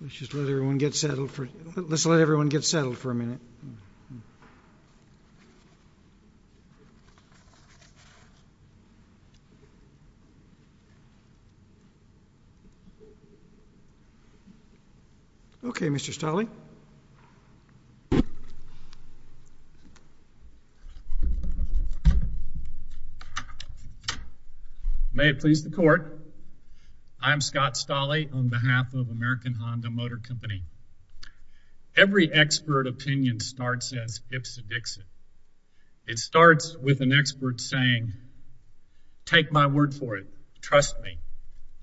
Let's just let everyone get settled for a minute. Okay, Mr. Stolle. May it please the court, I'm Scott Stolle on behalf of American Honda Motor Company. Every expert opinion starts as ipsy-dixit. It starts with an expert saying, take my word for it, trust me,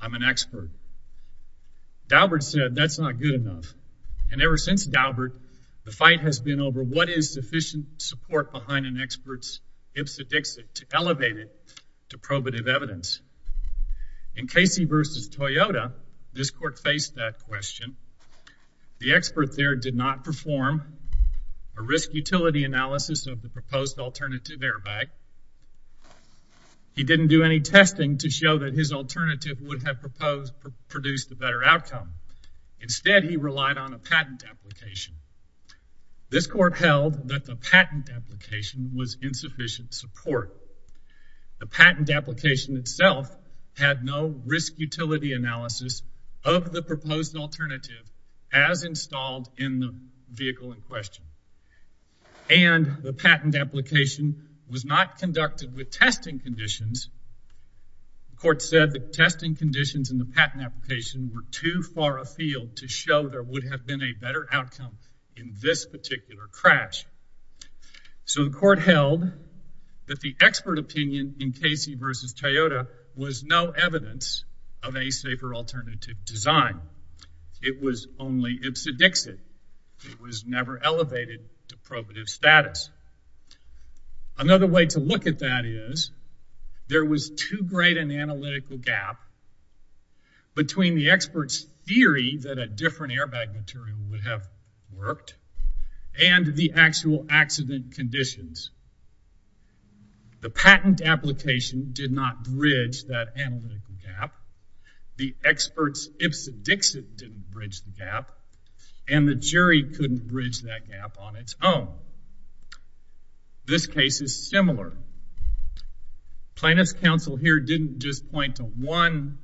I'm an expert. Daubert said, that's not good enough. And ever since Daubert, the fight has been over what is sufficient support behind an expert's ipsy-dixit to elevate it to probative evidence. In Casey v. Toyota, this court faced that question. The expert there did not perform a risk-utility analysis of the proposed alternative airbag. He didn't do any testing to show that his alternative would have produced a better outcome. Instead, he relied on a patent application. This court held that the patent application was insufficient support. The patent application itself had no risk-utility analysis of the proposed alternative as installed in the vehicle in question. And the patent application was not conducted with testing conditions. The court said the testing conditions in the patent application were too far afield to show there would have been a better outcome in this particular crash. So the court held that the expert opinion in Casey v. Toyota was no evidence of a safer alternative design. It was only ipsy-dixit. It was never elevated to probative status. Another way to look at that is there was too great an analytical gap between the expert's theory that a different airbag material would have worked and the actual accident conditions. The patent application did not bridge that analytical gap. The expert's ipsy-dixit didn't bridge the gap. And the jury couldn't bridge that gap on its own. This case is similar. Plaintiff's counsel here didn't just point to one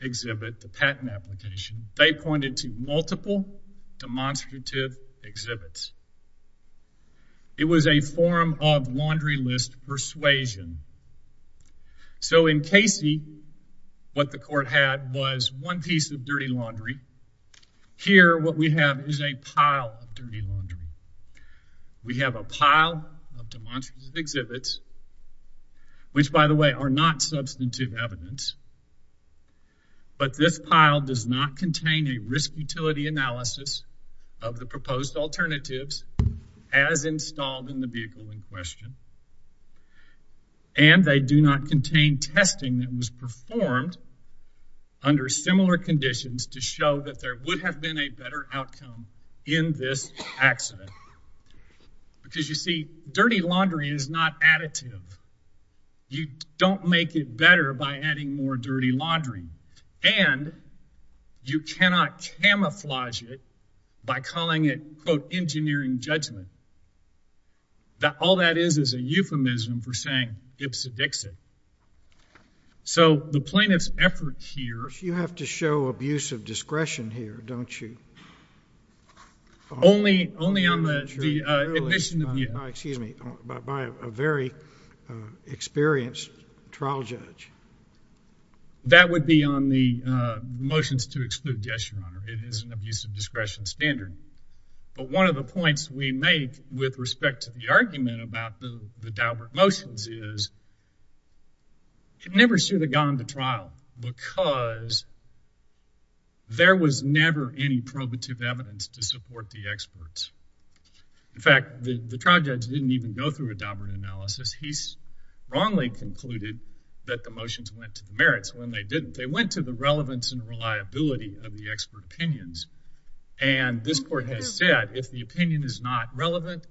exhibit, the patent application. They pointed to multiple demonstrative exhibits. It was a form of laundry list persuasion. So in Casey, what the court had was one piece of dirty laundry. Here what we have is a pile of dirty laundry. We have a pile of demonstrative exhibits, which by the way are not substantive evidence. But this pile does not contain a risk utility analysis of the proposed alternatives as installed in the vehicle in question. And they do not contain testing that was performed under similar conditions to show that there would have been a better outcome in this accident. Because you see, dirty laundry is not additive. You don't make it better by adding more dirty laundry. And you cannot camouflage it by calling it, quote, engineering judgment. All that is is a euphemism for saying ipsy-dixit. So the plaintiff's effort here- You have to show abuse of discretion here, don't you? Only on the admission of- Excuse me. By a very experienced trial judge. That would be on the motions to exclude. Yes, Your Honor. It is an abuse of discretion standard. But one of the points we make with respect to the argument about the Daubert motions is it never should have gone to trial. Because there was never any probative evidence to support the experts. In fact, the trial judge didn't even go through a Daubert analysis. He wrongly concluded that the motions went to the merits when they didn't. They went to the relevance and reliability of the expert opinions. And this court has said if the opinion is not relevant,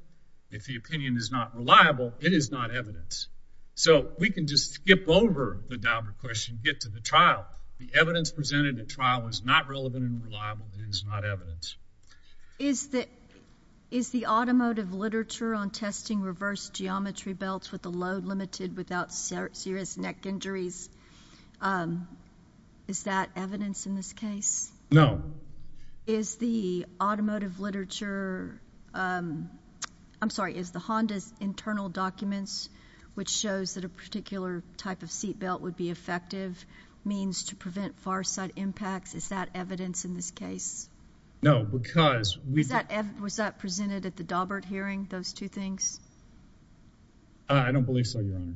if the opinion is not reliable, it is not evidence. So we can just skip over the Daubert question and get to the trial. The evidence presented at trial was not relevant and reliable. It is not evidence. Is the automotive literature on testing reverse geometry belts with a load limited without serious neck injuries, is that evidence in this case? No. Is the automotive literature, I'm sorry, is the Honda's internal documents, which shows that a particular type of seat belt would be effective, means to prevent far side impacts, is that evidence in this case? No, because we've Was that presented at the Daubert hearing, those two things? I don't believe so, Your Honor.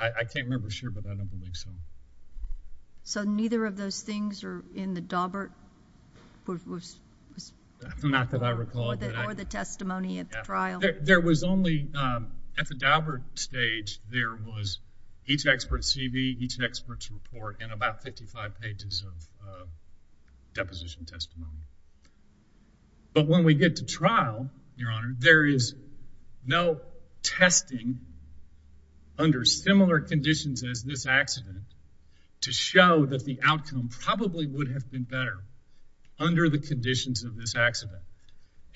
I can't remember for sure, but I don't believe so. So neither of those things are in the Daubert? Not that I recall. Or the testimony at the trial? There was only, at the Daubert stage, there was each expert's CV, each expert's report, and about 55 pages of deposition testimony. But when we get to trial, Your Honor, there is no testing under similar conditions as this accident to show that the outcome probably would have been better under the conditions of this accident.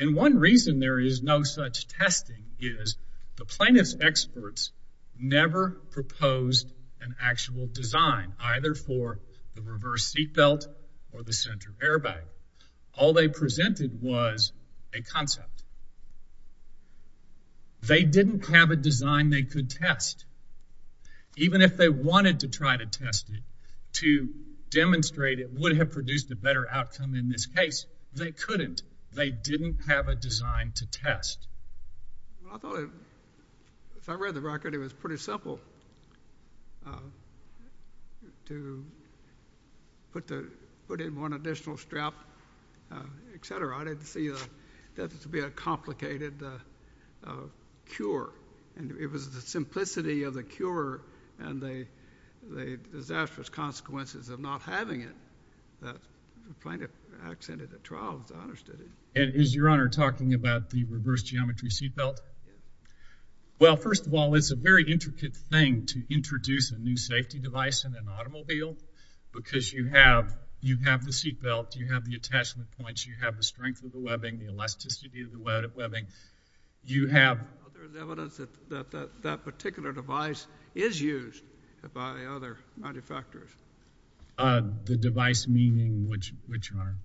And one reason there is no such testing is the plaintiff's experts never proposed an actual design, either for the reverse seat belt or the center airbag. All they presented was a concept. They didn't have a design they could test. Even if they wanted to try to test it, to demonstrate it would have produced a better outcome in this case, they couldn't. They didn't have a design to test. Well, I thought it, as I read the record, it was pretty simple to put in one additional strap, et cetera. I didn't see that to be a complicated cure. And it was the simplicity of the cure and the disastrous consequences of not having it that the plaintiff accented at trial, as I understood it. And is Your Honor talking about the reverse geometry seat belt? Well, first of all, it's a very intricate thing to introduce a new safety device in an automobile because you have the seat belt, you have the attachment points, you have the strength of the webbing, the elasticity of the webbing. There's evidence that that particular device is used by other manufacturers. The device meaning which, Your Honor?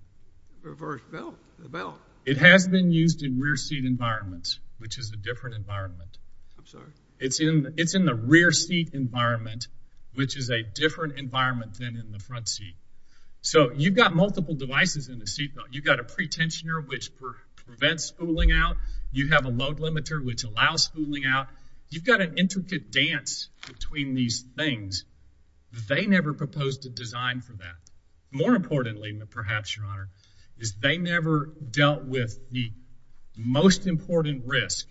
Reverse belt, the belt. It has been used in rear seat environments, which is a different environment. I'm sorry? It's in the rear seat environment, which is a different environment than in the front seat. So, you've got multiple devices in the seat belt. You've got a pretensioner, which prevents spooling out. You have a load limiter, which allows spooling out. You've got an intricate dance between these things. They never proposed a design for that. More importantly, perhaps, Your Honor, is they never dealt with the most important risk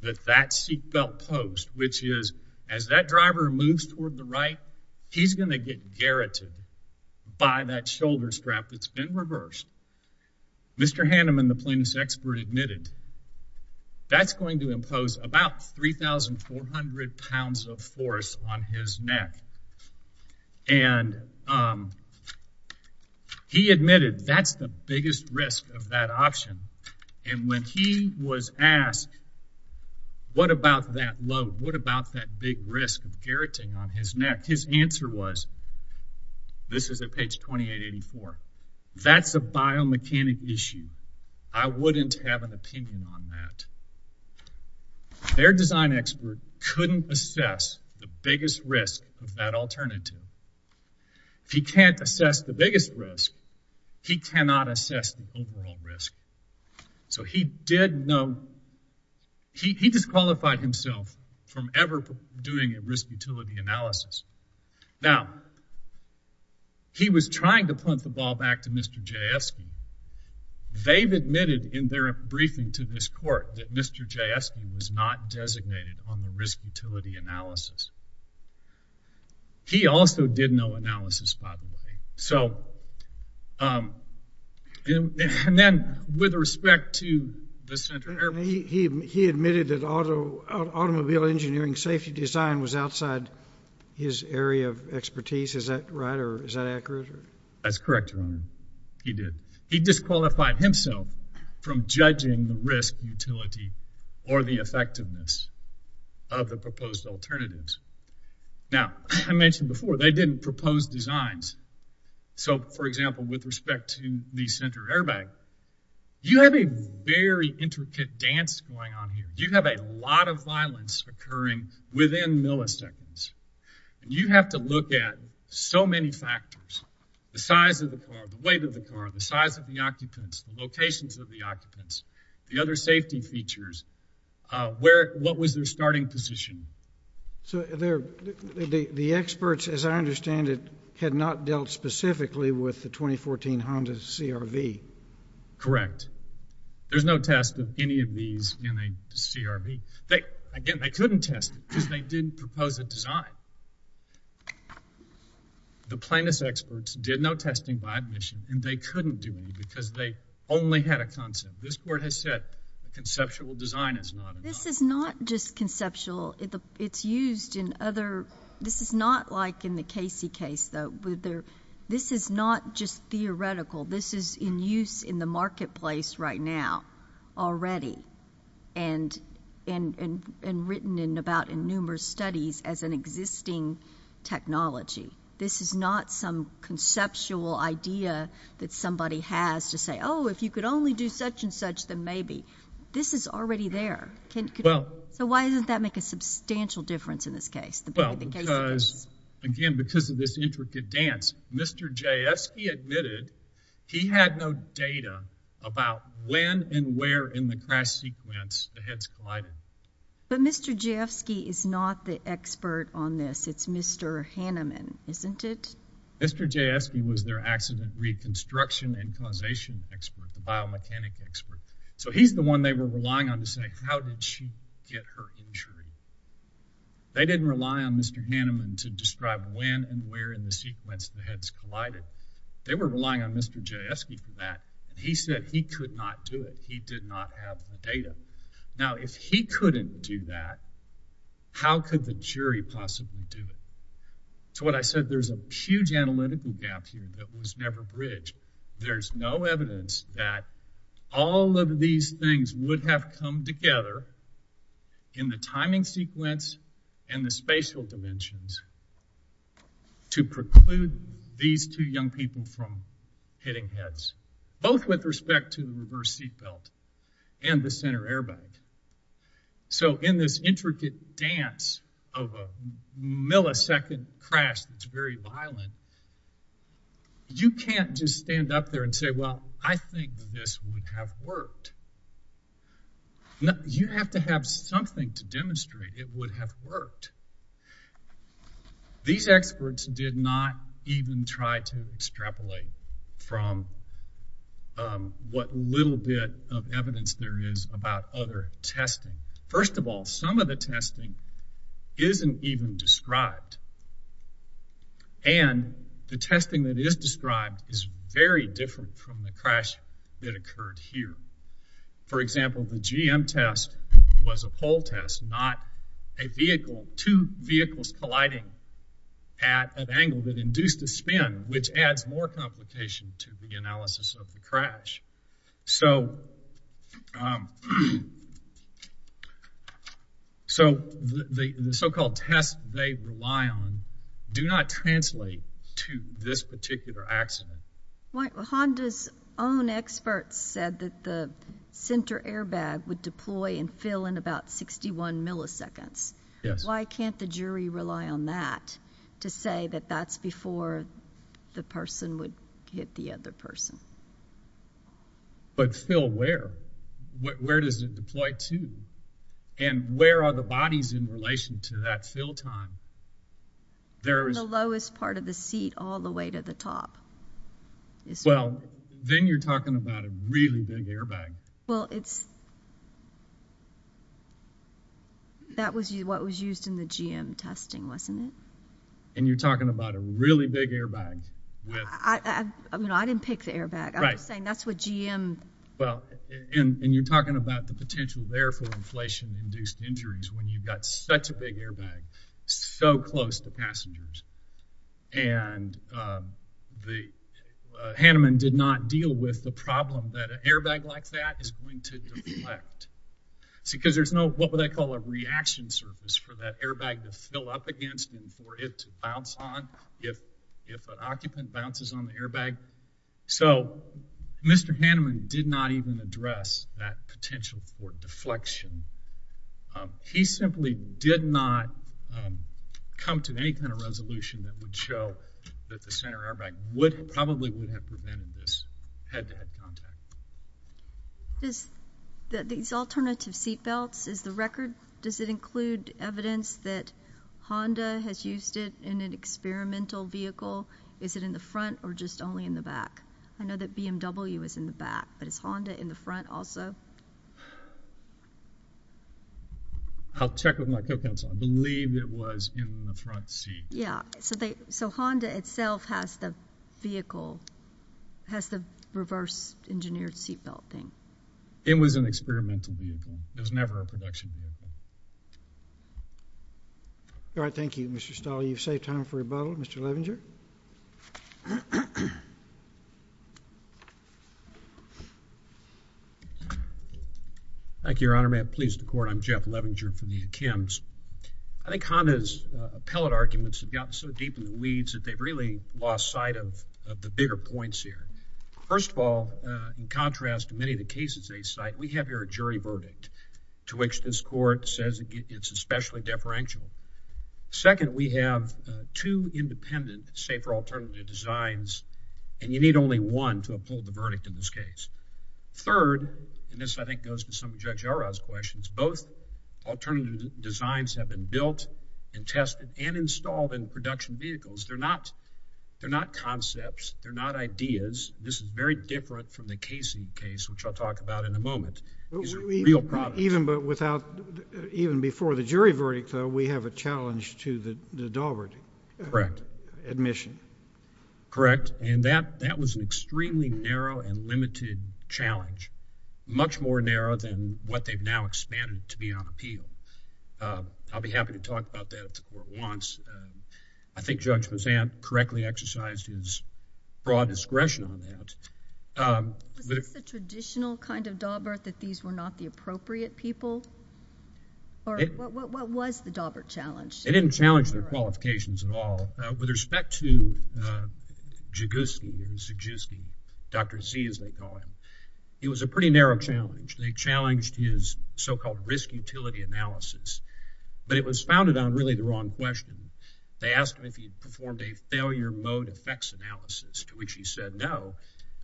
that that seat belt posed, which is as that driver moves toward the right, he's going to get garroted by that shoulder strap that's been reversed. Mr. Hanneman, the plaintiff's expert, admitted that's going to impose about 3,400 pounds of force on his neck. And he admitted that's the biggest risk of that option. And when he was asked, what about that load? What about that big risk of garroting on his neck? His answer was, this is at page 2884, that's a biomechanic issue. I wouldn't have an opinion on that. Their design expert couldn't assess the biggest risk of that alternative. If he can't assess the biggest risk, he cannot assess the overall risk. So, he did know, he disqualified himself from ever doing a risk utility analysis. Now, he was trying to punt the ball back to Mr. Jaskin. They've admitted in their briefing to this court that Mr. Jaskin was not designated on the risk utility analysis. He also did no analysis, by the way. So, and then, with respect to the center airplane. He admitted that automobile engineering safety design was outside his area of expertise. Is that right, or is that accurate? That's correct, Your Honor, he did. He disqualified himself from judging the risk utility or the effectiveness of the proposed alternatives. Now, I mentioned before, they didn't propose designs. So, for example, with respect to the center airbag, you have a very intricate dance going on here. You have a lot of violence occurring within milliseconds. You have to look at so many factors. The size of the car, the weight of the car, the size of the occupants, the locations of the occupants, the other safety features. What was their starting position? So, the experts, as I understand it, had not dealt specifically with the 2014 Honda CRV. Correct. There's no test of any of these in a CRV. Again, they couldn't test it because they didn't propose a design. The plaintiff's experts did no testing by admission, and they couldn't do any because they only had a concept. This Court has said conceptual design is not enough. This is not just conceptual. It's used in other—this is not like in the Casey case, though. This is not just theoretical. This is in use in the marketplace right now already. And written about in numerous studies as an existing technology. This is not some conceptual idea that somebody has to say, oh, if you could only do such and such, then maybe. This is already there. So, why doesn't that make a substantial difference in this case? Well, because, again, because of this intricate dance, Mr. Jafsky admitted he had no data about when and where in the crash sequence the heads collided. But Mr. Jafsky is not the expert on this. It's Mr. Hanneman, isn't it? Mr. Jafsky was their accident reconstruction and causation expert, the biomechanic expert. So, he's the one they were relying on to say, how did she get her injury? They didn't rely on Mr. Hanneman to describe when and where in the sequence the heads collided. They were relying on Mr. Jafsky for that. He said he could not do it. He did not have the data. Now, if he couldn't do that, how could the jury possibly do it? To what I said, there's a huge analytical gap here that was never bridged. There's no evidence that all of these things would have come together in the timing sequence and the spatial dimensions to preclude these two young people from hitting heads, both with respect to the reverse seat belt and the center airbag. So, in this intricate dance of a millisecond crash that's very violent, you can't just stand up there and say, well, I think this would have worked. You have to have something to demonstrate it would have worked. These experts did not even try to extrapolate from what little bit of evidence there is about other testing. First of all, some of the testing isn't even described. And the testing that is described is very different from the crash that occurred here. For example, the GM test was a pole test, not a vehicle. Two vehicles colliding at an angle that induced a spin, which adds more complication to the analysis of the crash. So, the so-called tests they rely on do not translate to this particular accident. Honda's own experts said that the center airbag would deploy and fill in about 61 milliseconds. Yes. Why can't the jury rely on that to say that that's before the person would hit the other person? But fill where? Where does it deploy to? And where are the bodies in relation to that fill time? From the lowest part of the seat all the way to the top. Well, then you're talking about a really big airbag. Well, that was what was used in the GM testing, wasn't it? And you're talking about a really big airbag. I didn't pick the airbag. I'm just saying that's what GM. And you're talking about the potential there for inflation-induced injuries when you've got such a big airbag so close to passengers. And Hanneman did not deal with the problem that an airbag like that is going to deflect. Because there's no, what would I call it, reaction surface for that airbag to fill up against and for it to bounce on if an occupant bounces on the airbag. So Mr. Hanneman did not even address that potential for deflection. He simply did not come to any kind of resolution that would show that the center airbag probably would have prevented this head-to-head contact. These alternative seatbelts, is the record, does it include evidence that Honda has used it in an experimental vehicle? Is it in the front or just only in the back? I know that BMW is in the back, but is Honda in the front also? I'll check with my co-counsel. I believe it was in the front seat. Yeah. So Honda itself has the vehicle, has the reverse-engineered seatbelt thing. It was an experimental vehicle. It was never a production vehicle. All right. Thank you, Mr. Stahl. I know you've saved time for rebuttal. Mr. Levinger? Thank you, Your Honor. May it please the Court, I'm Jeff Levinger for the Kims. I think Honda's appellate arguments have gotten so deep in the weeds that they've really lost sight of the bigger points here. First of all, in contrast to many of the cases they cite, we have here a jury verdict to which this Court says it's especially deferential. Second, we have two independent safer alternative designs, and you need only one to uphold the verdict in this case. Third, and this I think goes to some of Judge Yarrow's questions, both alternative designs have been built and tested and installed in production vehicles. They're not concepts. They're not ideas. This is very different from the casing case, which I'll talk about in a moment. These are real products. Even before the jury verdict, though, we have a challenge to the Daubert admission. Correct. And that was an extremely narrow and limited challenge, much more narrow than what they've now expanded to be on appeal. I'll be happy to talk about that if the Court wants. I think Judge Mazzant correctly exercised his broad discretion on that. Was this the traditional kind of Daubert, that these were not the appropriate people? Or what was the Daubert challenge? They didn't challenge their qualifications at all. With respect to Jaguski, Dr. Z, as they call him, it was a pretty narrow challenge. They challenged his so-called risk utility analysis, but it was founded on really the wrong question. They asked him if he'd performed a failure mode effects analysis, to which he said no.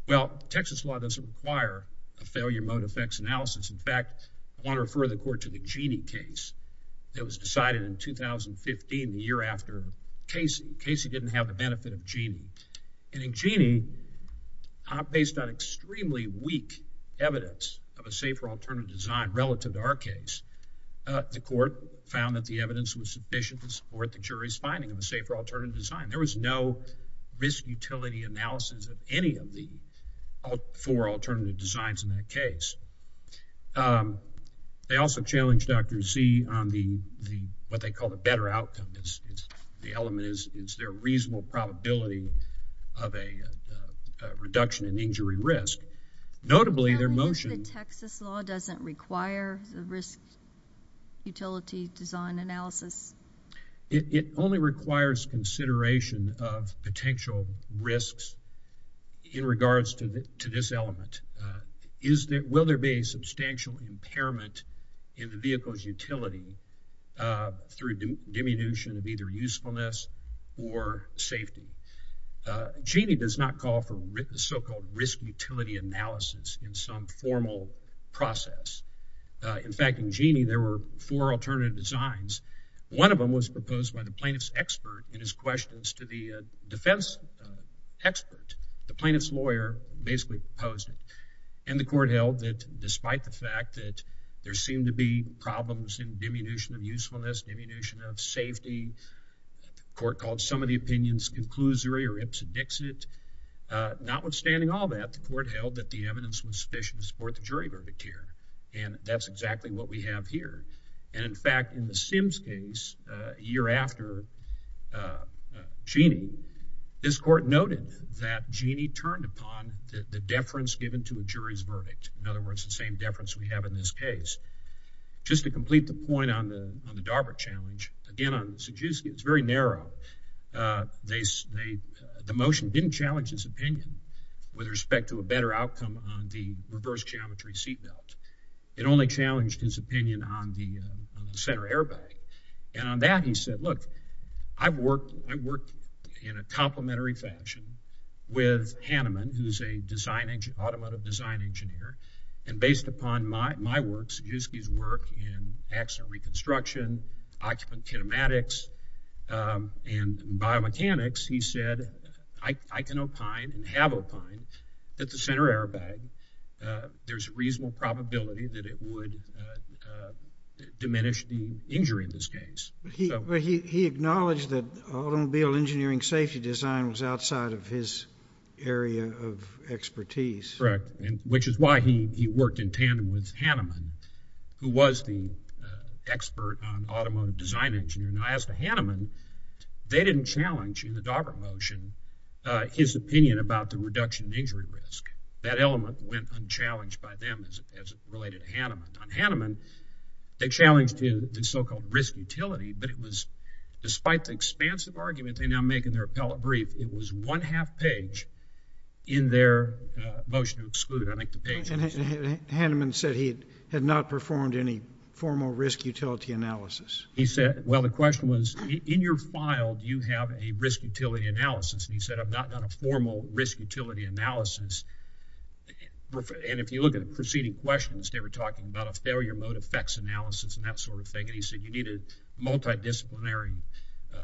Well, Texas law doesn't require a failure mode effects analysis. In fact, I want to refer the Court to the Gini case that was decided in 2015, the year after Casey. Casey didn't have the benefit of Gini. And in Gini, based on extremely weak evidence of a safer alternative design relative to our case, the Court found that the evidence was sufficient to support the jury's finding of a safer alternative design. There was no risk utility analysis of any of the four alternative designs in that case. They also challenged Dr. Z on what they called a better outcome. The element is, is there a reasonable probability of a reduction in injury risk? Notably, their motion— The Texas law doesn't require the risk utility design analysis? It only requires consideration of potential risks in regards to this element. Will there be a substantial impairment in the vehicle's utility through diminution of either usefulness or safety? Gini does not call for so-called risk utility analysis in some formal process. In fact, in Gini, there were four alternative designs. One of them was proposed by the plaintiff's expert in his questions to the defense expert. The plaintiff's lawyer basically opposed it. And the Court held that despite the fact that there seemed to be problems in diminution of usefulness, diminution of safety, the Court called some of the opinions conclusory or ips and dixit, notwithstanding all that, the Court held that the evidence was sufficient to support the jury verdict here. And that's exactly what we have here. And, in fact, in the Sims case, a year after Gini, this Court noted that Gini turned upon the deference given to a jury's verdict, in other words, the same deference we have in this case. Just to complete the point on the DARPA challenge, again, on Saddusky, it's very narrow. The motion didn't challenge his opinion with respect to a better outcome on the reverse geometry seatbelt. It only challenged his opinion on the center airbag. And on that, he said, look, I worked in a complementary fashion with Hanneman, who's an automotive design engineer. And based upon my works, Saddusky's work in accident reconstruction, occupant kinematics, and biomechanics, he said, I can opine and have opined that the center airbag, there's a reasonable probability that it would diminish the injury in this case. But he acknowledged that automobile engineering safety design was outside of his area of expertise. Correct, which is why he worked in tandem with Hanneman, who was the expert on automotive design engineering. Now, as to Hanneman, they didn't challenge in the DARPA motion his opinion about the reduction in injury risk. That element went unchallenged by them as it related to Hanneman. On Hanneman, they challenged the so-called risk utility, but it was despite the expansive argument they now make in their appellate brief, it was one-half page in their motion to exclude, I think, the patient. Hanneman said he had not performed any formal risk utility analysis. He said, well, the question was, in your file, do you have a risk utility analysis? And he said, I've not done a formal risk utility analysis. And if you look at the preceding questions, they were talking about a failure mode effects analysis and that sort of thing. And he said you need a multidisciplinary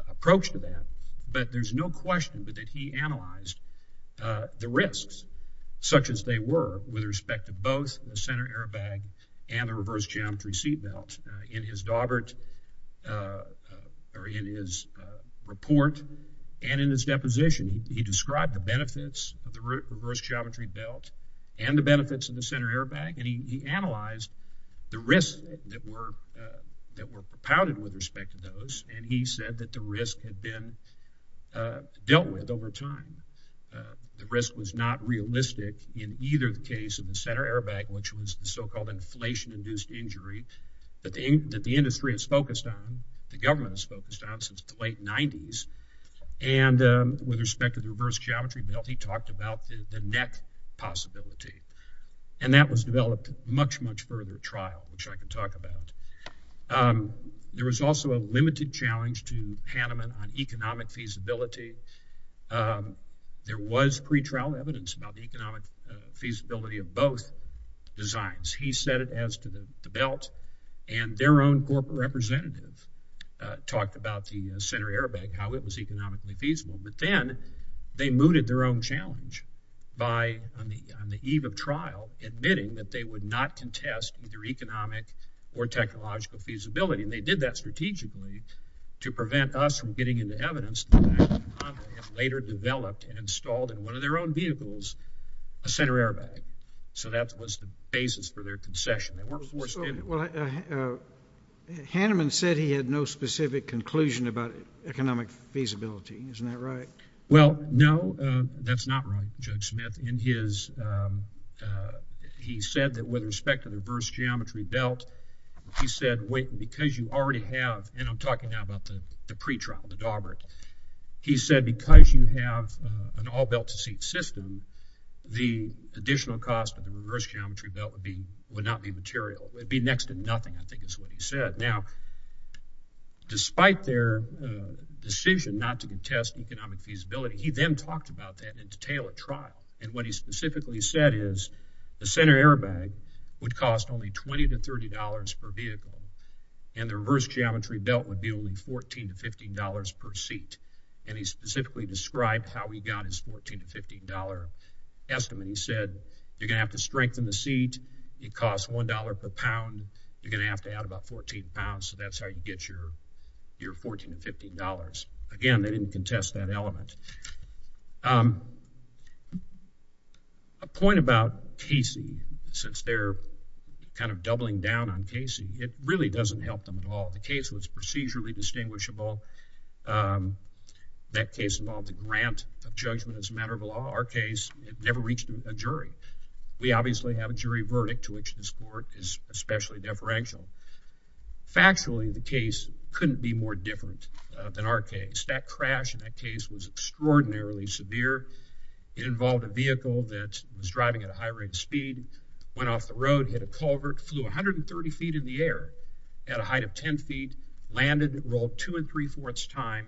approach to that. But there's no question that he analyzed the risks, such as they were, with respect to both the center airbag and the reverse geometry seatbelt. In his report and in his deposition, he described the benefits of the reverse geometry belt and the benefits of the center airbag. And he analyzed the risks that were propounded with respect to those. And he said that the risk had been dealt with over time. The risk was not realistic in either the case of the center airbag, which was the so-called inflation-induced injury that the industry has focused on, the government has focused on since the late 90s. And with respect to the reverse geometry belt, he talked about the neck possibility. And that was developed much, much further trial, which I can talk about. There was also a limited challenge to Hanneman on economic feasibility. There was pretrial evidence about the economic feasibility of both designs. He said it as to the belt. And their own corporate representative talked about the center airbag, how it was economically feasible. But then they mooted their own challenge by, on the eve of trial, admitting that they would not contest either economic or technological feasibility. And they did that strategically to prevent us from getting into evidence later developed and installed in one of their own vehicles a center airbag. So that was the basis for their concession. Well, Hanneman said he had no specific conclusion about economic feasibility. Isn't that right? Well, no, that's not right, Judge Smith. He said that with respect to the reverse geometry belt, he said, wait, because you already have – and I'm talking now about the pretrial, the dauber. He said because you have an all-belt-to-seat system, the additional cost of the reverse geometry belt would not be material. It would be next to nothing, I think is what he said. Now, despite their decision not to contest economic feasibility, he then talked about that in detail at trial. And what he specifically said is the center airbag would cost only $20 to $30 per vehicle, and the reverse geometry belt would be only $14 to $15 per seat. And he specifically described how he got his $14 to $15 estimate. He said you're going to have to strengthen the seat. It costs $1 per pound. You're going to have to add about 14 pounds. So that's how you get your $14 to $15. Again, they didn't contest that element. A point about casing, since they're kind of doubling down on casing, it really doesn't help them at all. The case was procedurally distinguishable. That case involved a grant of judgment as a matter of law. Our case never reached a jury. We obviously have a jury verdict to which this court is especially deferential. Factually, the case couldn't be more different than our case. That crash in that case was extraordinarily severe. It involved a vehicle that was driving at a high rate of speed, went off the road, hit a culvert, flew 130 feet in the air at a height of 10 feet, landed, rolled two and three-fourths time,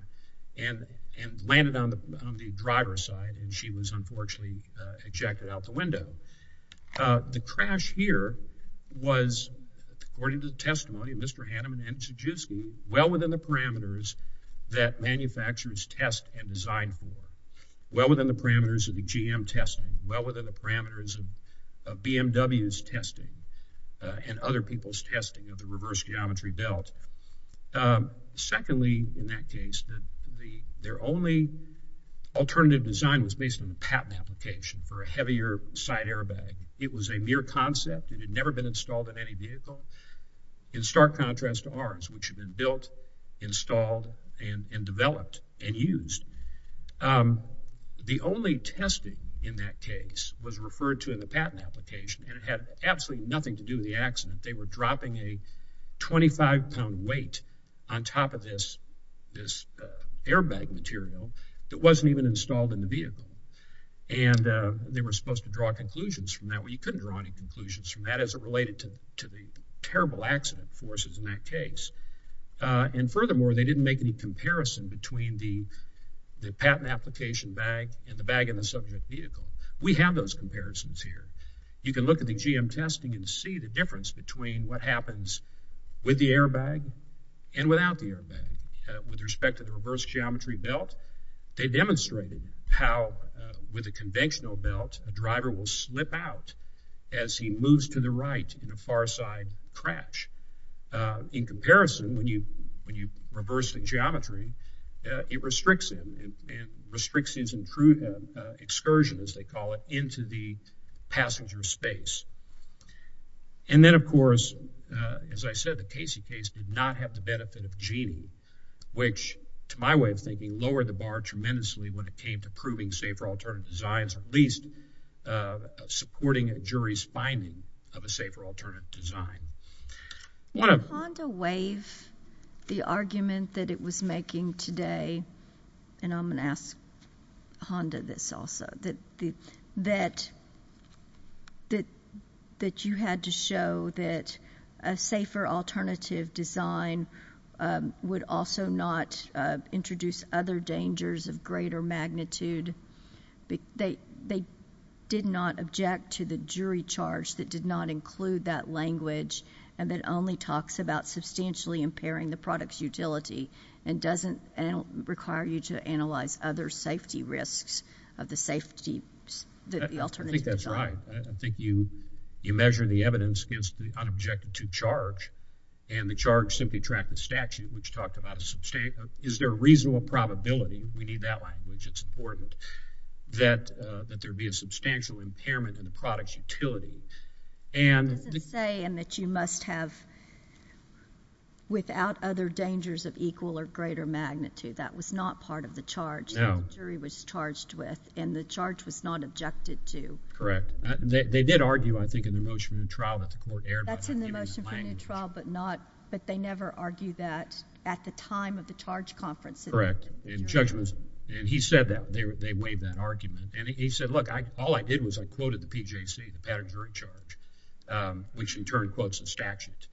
and landed on the driver's side. And she was, unfortunately, ejected out the window. The crash here was, according to the testimony of Mr. Hanneman, well within the parameters that manufacturers test and design for, well within the parameters of the GM testing, well within the parameters of BMW's testing. And other people's testing of the reverse geometry belt. Secondly, in that case, their only alternative design was based on the patent application for a heavier side airbag. It was a mere concept. It had never been installed in any vehicle. In stark contrast to ours, which had been built, installed, and developed and used. The only testing in that case was referred to in the patent application, and it had absolutely nothing to do with the accident. They were dropping a 25-pound weight on top of this airbag material that wasn't even installed in the vehicle. And they were supposed to draw conclusions from that. Well, you couldn't draw any conclusions from that as it related to the terrible accident forces in that case. And furthermore, they didn't make any comparison between the patent application bag and the bag in the subject vehicle. We have those comparisons here. You can look at the GM testing and see the difference between what happens with the airbag and without the airbag. With respect to the reverse geometry belt, they demonstrated how with a conventional belt, a driver will slip out as he moves to the right in a far side crash. In comparison, when you reverse the geometry, it restricts him and restricts his excursion, as they call it, from passenger space. And then, of course, as I said, the Casey case did not have the benefit of Genie, which, to my way of thinking, lowered the bar tremendously when it came to proving safer alternative designs, at least supporting a jury's finding of a safer alternative design. Did Honda waive the argument that it was making today, and I'm going to ask Honda this also, that you had to show that a safer alternative design would also not introduce other dangers of greater magnitude? They did not object to the jury charge that did not include that language and that only talks about substantially impairing the product's utility and doesn't require you to analyze other safety risks of the safety alternative design. I think that's right. I think you measured the evidence against the unobjected to charge, and the charge simply tracked the statute, which talked about is there a reasonable probability, we need that language, it's important, that there be a substantial impairment in the product's utility. It doesn't say in that you must have, without other dangers of equal or greater magnitude. That was not part of the charge that the jury was charged with, and the charge was not objected to. Correct. They did argue, I think, in the motion for new trial that the court erred. That's in the motion for new trial, but they never argued that at the time of the charge conference. Correct. In judgment. And he said that. They waived that argument. And he said, look, all I did was I quoted the PJC, the pattern jury charge, which in turn quotes the statute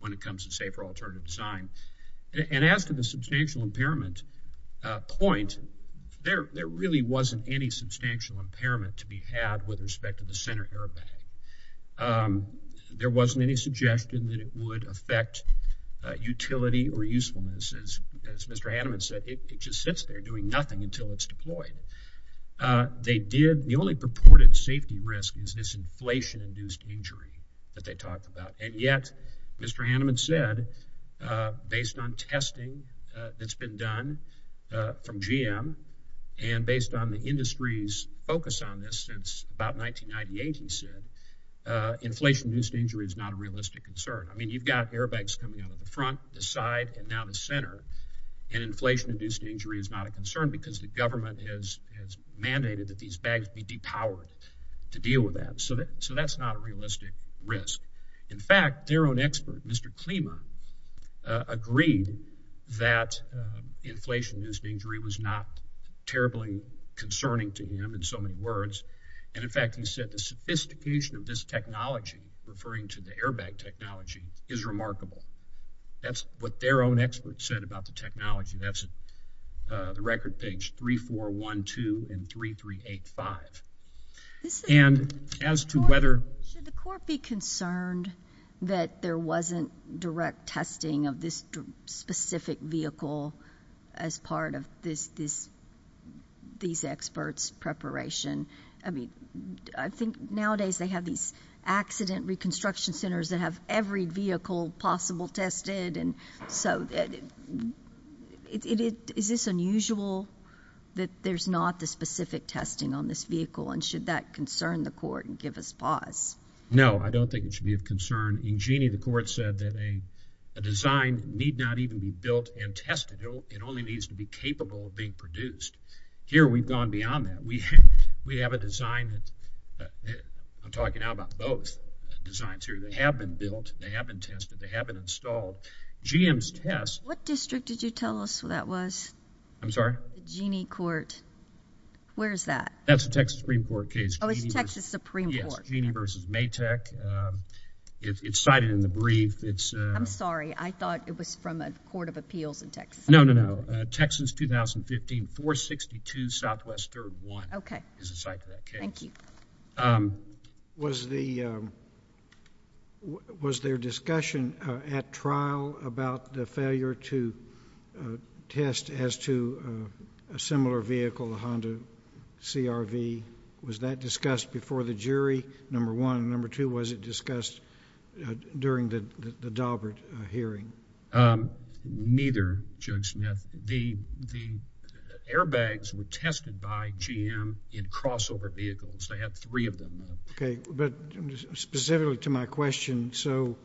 when it comes to safer alternative design. And as to the substantial impairment point, there really wasn't any substantial impairment to be had with respect to the center airbag. There wasn't any suggestion that it would affect utility or usefulness. As Mr. Haneman said, it just sits there doing nothing until it's deployed. They did. The only purported safety risk is this inflation-induced injury that they talked about. And yet, Mr. Haneman said, based on testing that's been done from GM and based on the industry's focus on this since about 1998, he said, inflation-induced injury is not a realistic concern. I mean, you've got airbags coming out of the front, the side, and now the center. And inflation-induced injury is not a concern because the government has mandated that these bags be depowered to deal with that. So that's not a realistic risk. In fact, their own expert, Mr. Klima, agreed that inflation-induced injury was not terribly concerning to him in so many words. And, in fact, he said the sophistication of this technology, referring to the airbag technology, is remarkable. That's what their own expert said about the technology. That's the record page 3412 and 3385. And as to whether— Should the court be concerned that there wasn't direct testing of this specific vehicle as part of these experts' preparation? I mean, I think nowadays they have these accident reconstruction centers that have every vehicle possible tested. So is this unusual that there's not the specific testing on this vehicle? And should that concern the court and give us pause? In Jeanne, the court said that a design need not even be built and tested. It only needs to be capable of being produced. Here we've gone beyond that. We have a design that—I'm talking now about both designs here. They have been built, they have been tested, they have been installed. GM's test— What district did you tell us that was? I'm sorry? Jeanne Court. Where is that? That's a Texas Supreme Court case. Oh, it's Texas Supreme Court. Yes, Jeanne v. Maytek. It's cited in the brief. I'm sorry. I thought it was from a court of appeals in Texas. No, no, no. Texas 2015 462 Southwest 31 is the site for that case. Okay. Thank you. Was there discussion at trial about the failure to test as to a similar vehicle, a Honda CRV? Was that discussed before the jury, number one? Number two, was it discussed during the Daubert hearing? Neither, Judge Smith. The airbags were tested by GM in crossover vehicles. They have three of them now. Okay. But specifically to my question, so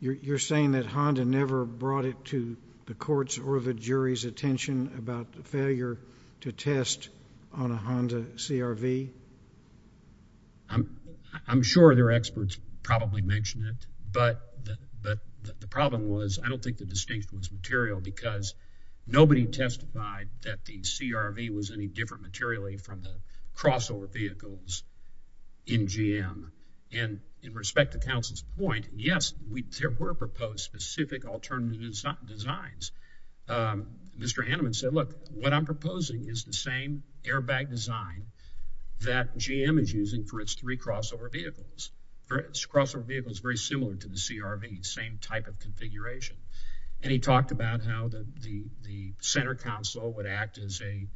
you're saying that Honda never brought it to the courts or the jury's attention about the failure to test on a Honda CRV? I'm sure their experts probably mentioned it, but the problem was I don't think the distinction was material because nobody testified that the CRV was any different materially from the crossover vehicles in GM. And in respect to counsel's point, yes, there were proposed specific alternative designs. Mr. Haneman said, look, what I'm proposing is the same airbag design that GM is using for its three crossover vehicles. For its crossover vehicles, very similar to the CRV, same type of configuration. And he talked about how the center console would act as a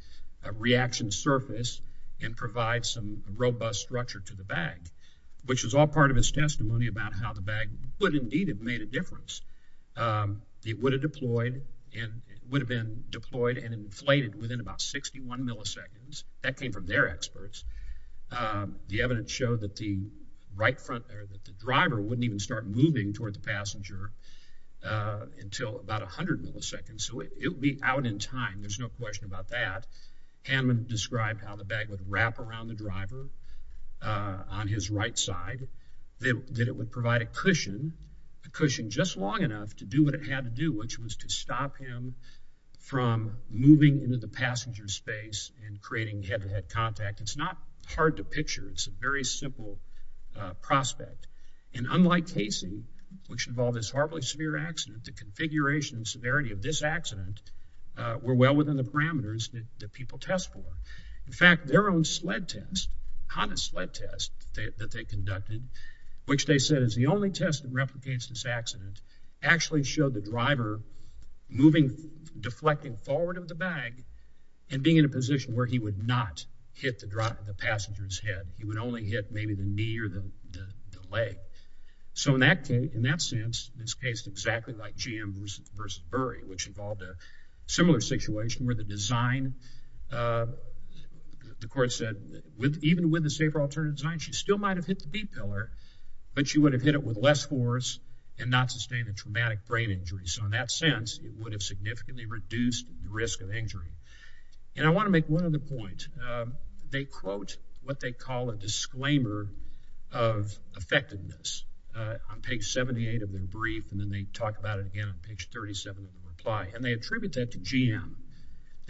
reaction surface and provide some robust structure to the bag, which was all part of his testimony about how the bag would indeed have made a difference. It would have deployed and would have been deployed and inflated within about 61 milliseconds. That came from their experts. The evidence showed that the driver wouldn't even start moving toward the passenger until about 100 milliseconds. So it would be out in time. There's no question about that. Haneman described how the bag would wrap around the driver on his right side, that it would provide a cushion, a cushion just long enough to do what it had to do, which was to stop him from moving into the passenger space and creating head-to-head contact. It's not hard to picture. It's a very simple prospect. And unlike Casey, which involved this horribly severe accident, the configuration and severity of this accident were well within the parameters that people test for. In fact, their own sled test, Honda sled test that they conducted, which they said is the only test that replicates this accident, actually showed the driver moving, deflecting forward of the bag and being in a position where he would not hit the driver, the passenger's head. He would only hit maybe the knee or the leg. So in that case, in that sense, this case is exactly like Jim versus Bury, which involved a similar situation where the design, the court said, even with the safer alternative design, she still might have hit the B pillar, but she would have hit it with less force and not sustained a traumatic brain injury. So in that sense, it would have significantly reduced the risk of injury. And I want to make one other point. They quote what they call a disclaimer of effectiveness. On page 78 of their brief, and then they talk about it again on page 37 of the reply, and they attribute that to GM.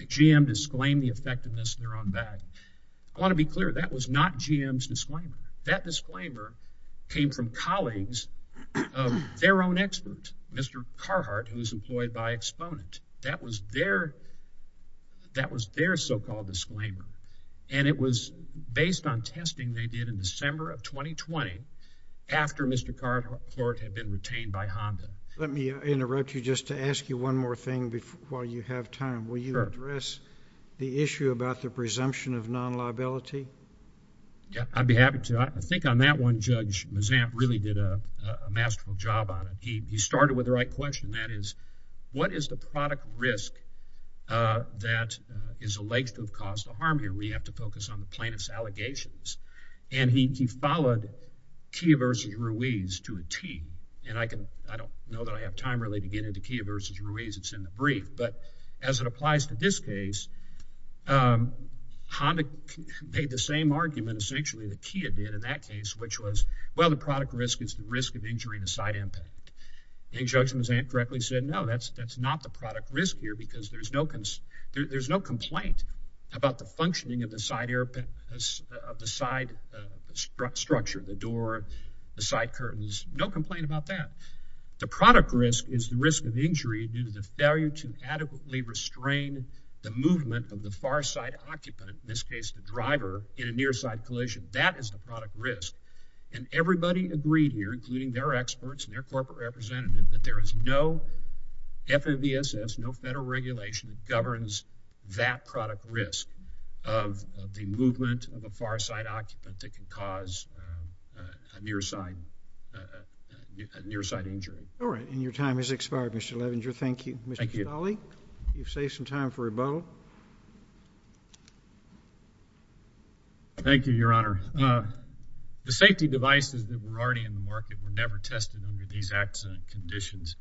GM disclaimed the effectiveness of their own bag. I want to be clear, that was not GM's disclaimer. That disclaimer came from colleagues of their own expert, Mr. Carhart, who was employed by Exponent. That was their so-called disclaimer, and it was based on testing they did in December of 2020 after Mr. Carhart had been retained by Honda. Let me interrupt you just to ask you one more thing while you have time. Will you address the issue about the presumption of non-liability? Yeah, I'd be happy to. I think on that one, Judge Mazam really did a masterful job on it. He started with the right question. That is, what is the product risk that is alleged to have caused the harm here? We have to focus on the plaintiff's allegations. And he followed Kia versus Ruiz to a tee, and I don't know that I have time really to get into Kia versus Ruiz. It's in the brief. But as it applies to this case, Honda made the same argument essentially that Kia did in that case, which was, well, the product risk is the risk of injury to side impact. And Judge Mazam correctly said, no, that's not the product risk here because there's no complaint about the functioning of the side structure, the door, the side curtains. No complaint about that. The product risk is the risk of injury due to the failure to adequately restrain the movement of the far side occupant, in this case the driver, in a near side collision. That is the product risk. And everybody agreed here, including their experts and their corporate representative, that there is no FMVSS, no federal regulation that governs that product risk of the movement of a far side occupant that can cause a near side injury. All right. And your time has expired, Mr. Levenger. Thank you. Thank you. Mr. Stolle, you've saved some time for rebuttal. Thank you, Your Honor. The safety devices that were already in the market were never tested under these accident conditions.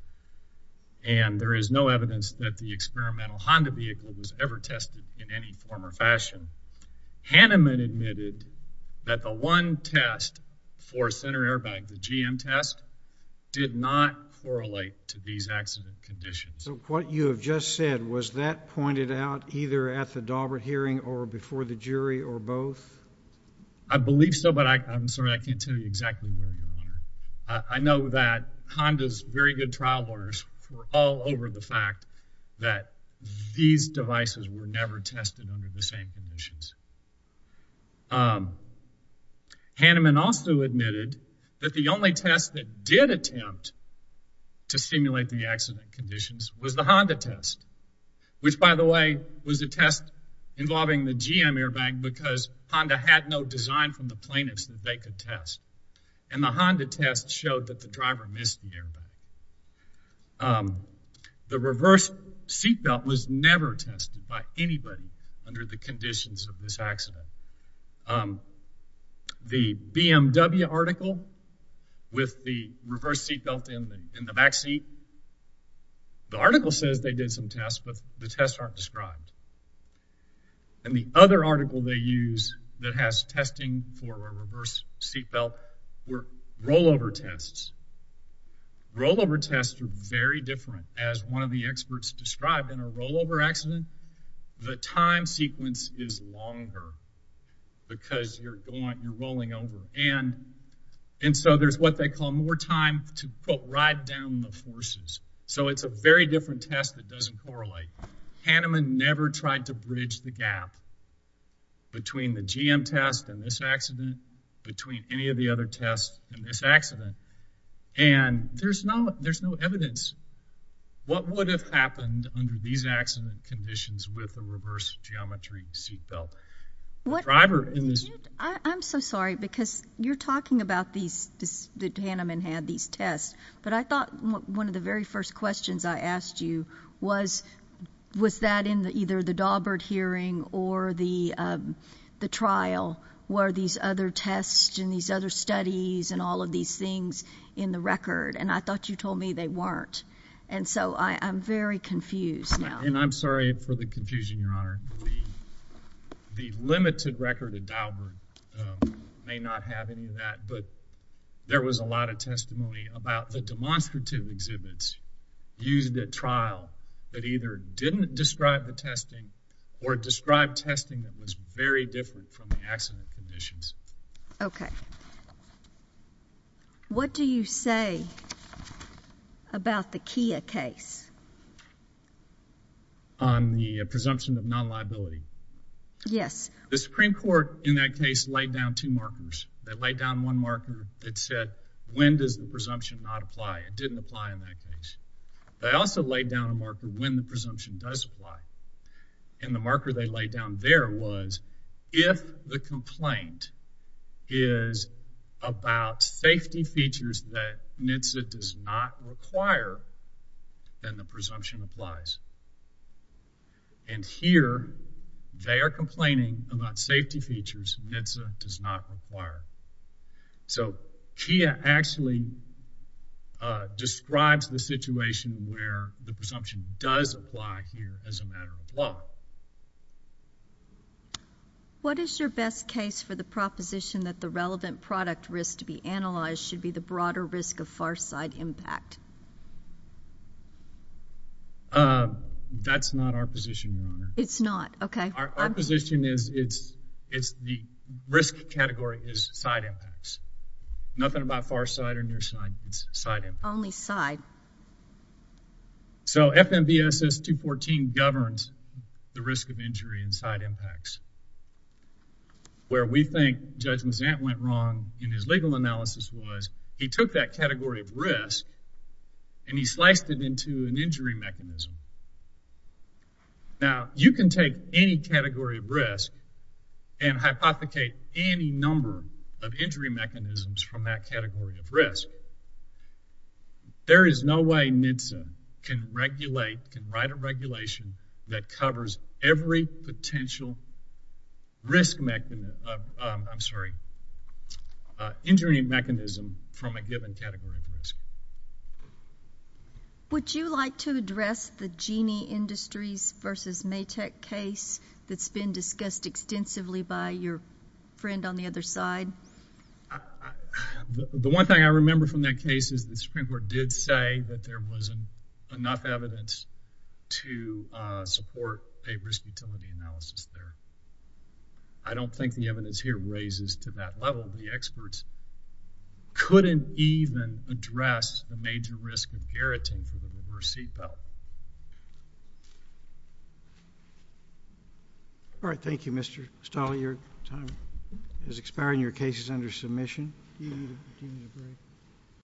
And there is no evidence that the experimental Honda vehicle was ever tested in any form or fashion. Hanneman admitted that the one test for center airbag, the GM test, did not correlate to these accident conditions. So what you have just said, was that pointed out either at the Daubert hearing or before the jury or both? I believe so, but I'm sorry, I can't tell you exactly where, Your Honor. I know that Honda's very good trial lawyers were all over the fact that these devices were never tested under the same conditions. Hanneman also admitted that the only test that did attempt to stimulate the accident conditions was the Honda test, which, by the way, was a test involving the GM airbag because Honda had no design from the plaintiffs that they could test. And the Honda test showed that the driver missed the airbag. The reverse seatbelt was never tested by anybody under the conditions of this accident. The BMW article with the reverse seatbelt in the back seat, the article says they did some tests, but the tests aren't described. And the other article they use that has testing for a reverse seatbelt were rollover tests. Rollover tests are very different. As one of the experts described, in a rollover accident, the time sequence is longer because you're rolling over. And so there's what they call more time to, quote, ride down the forces. So it's a very different test that doesn't correlate. Hanneman never tried to bridge the gap between the GM test and this accident, between any of the other tests in this accident. And there's no evidence. What would have happened under these accident conditions with the reverse geometry seatbelt? I'm so sorry because you're talking about the Hanneman had these tests, but I thought one of the very first questions I asked you was, was that in either the Daubert hearing or the trial were these other tests and these other studies and all of these things in the record? And I thought you told me they weren't. And so I'm very confused now. And I'm sorry for the confusion, Your Honor. The limited record at Daubert may not have any of that, but there was a lot of testimony about the demonstrative exhibits used at trial that either didn't describe the testing or described testing that was very different from the accident conditions. Okay. What do you say about the Kia case? On the presumption of non-liability? Yes. The Supreme Court in that case laid down two markers. They laid down one marker that said, when does the presumption not apply? It didn't apply in that case. They also laid down a marker when the presumption does apply. And the marker they laid down there was, if the complaint is about safety features that NHTSA does not require, then the presumption applies. And here they are complaining about safety features NHTSA does not require. So Kia actually describes the situation where the presumption does apply here as a matter of law. What is your best case for the proposition that the relevant product risk to be analyzed should be the broader risk of far side impact? That's not our position, Your Honor. It's not? Okay. Our position is the risk category is side impacts. Nothing about far side or near side, it's side impacts. Only side. So FMVSS 214 governs the risk of injury and side impacts. Where we think Judge Mazant went wrong in his legal analysis was, he took that category of risk and he sliced it into an injury mechanism. Now, you can take any category of risk and hypothecate any number of injury mechanisms from that category of risk. There is no way NHTSA can regulate, can write a regulation that covers every potential injury mechanism from a given category of risk. Would you like to address the Genie Industries v. Maytek case that's been discussed extensively by your friend on the other side? The one thing I remember from that case is the Supreme Court did say that there was enough evidence to support a risk utility analysis there. I don't think the evidence here raises to that level. None of the experts couldn't even address the major risk inherent to the reverse seatbelt. All right, thank you, Mr. Stoll. Your time is expiring. Your case is under submission.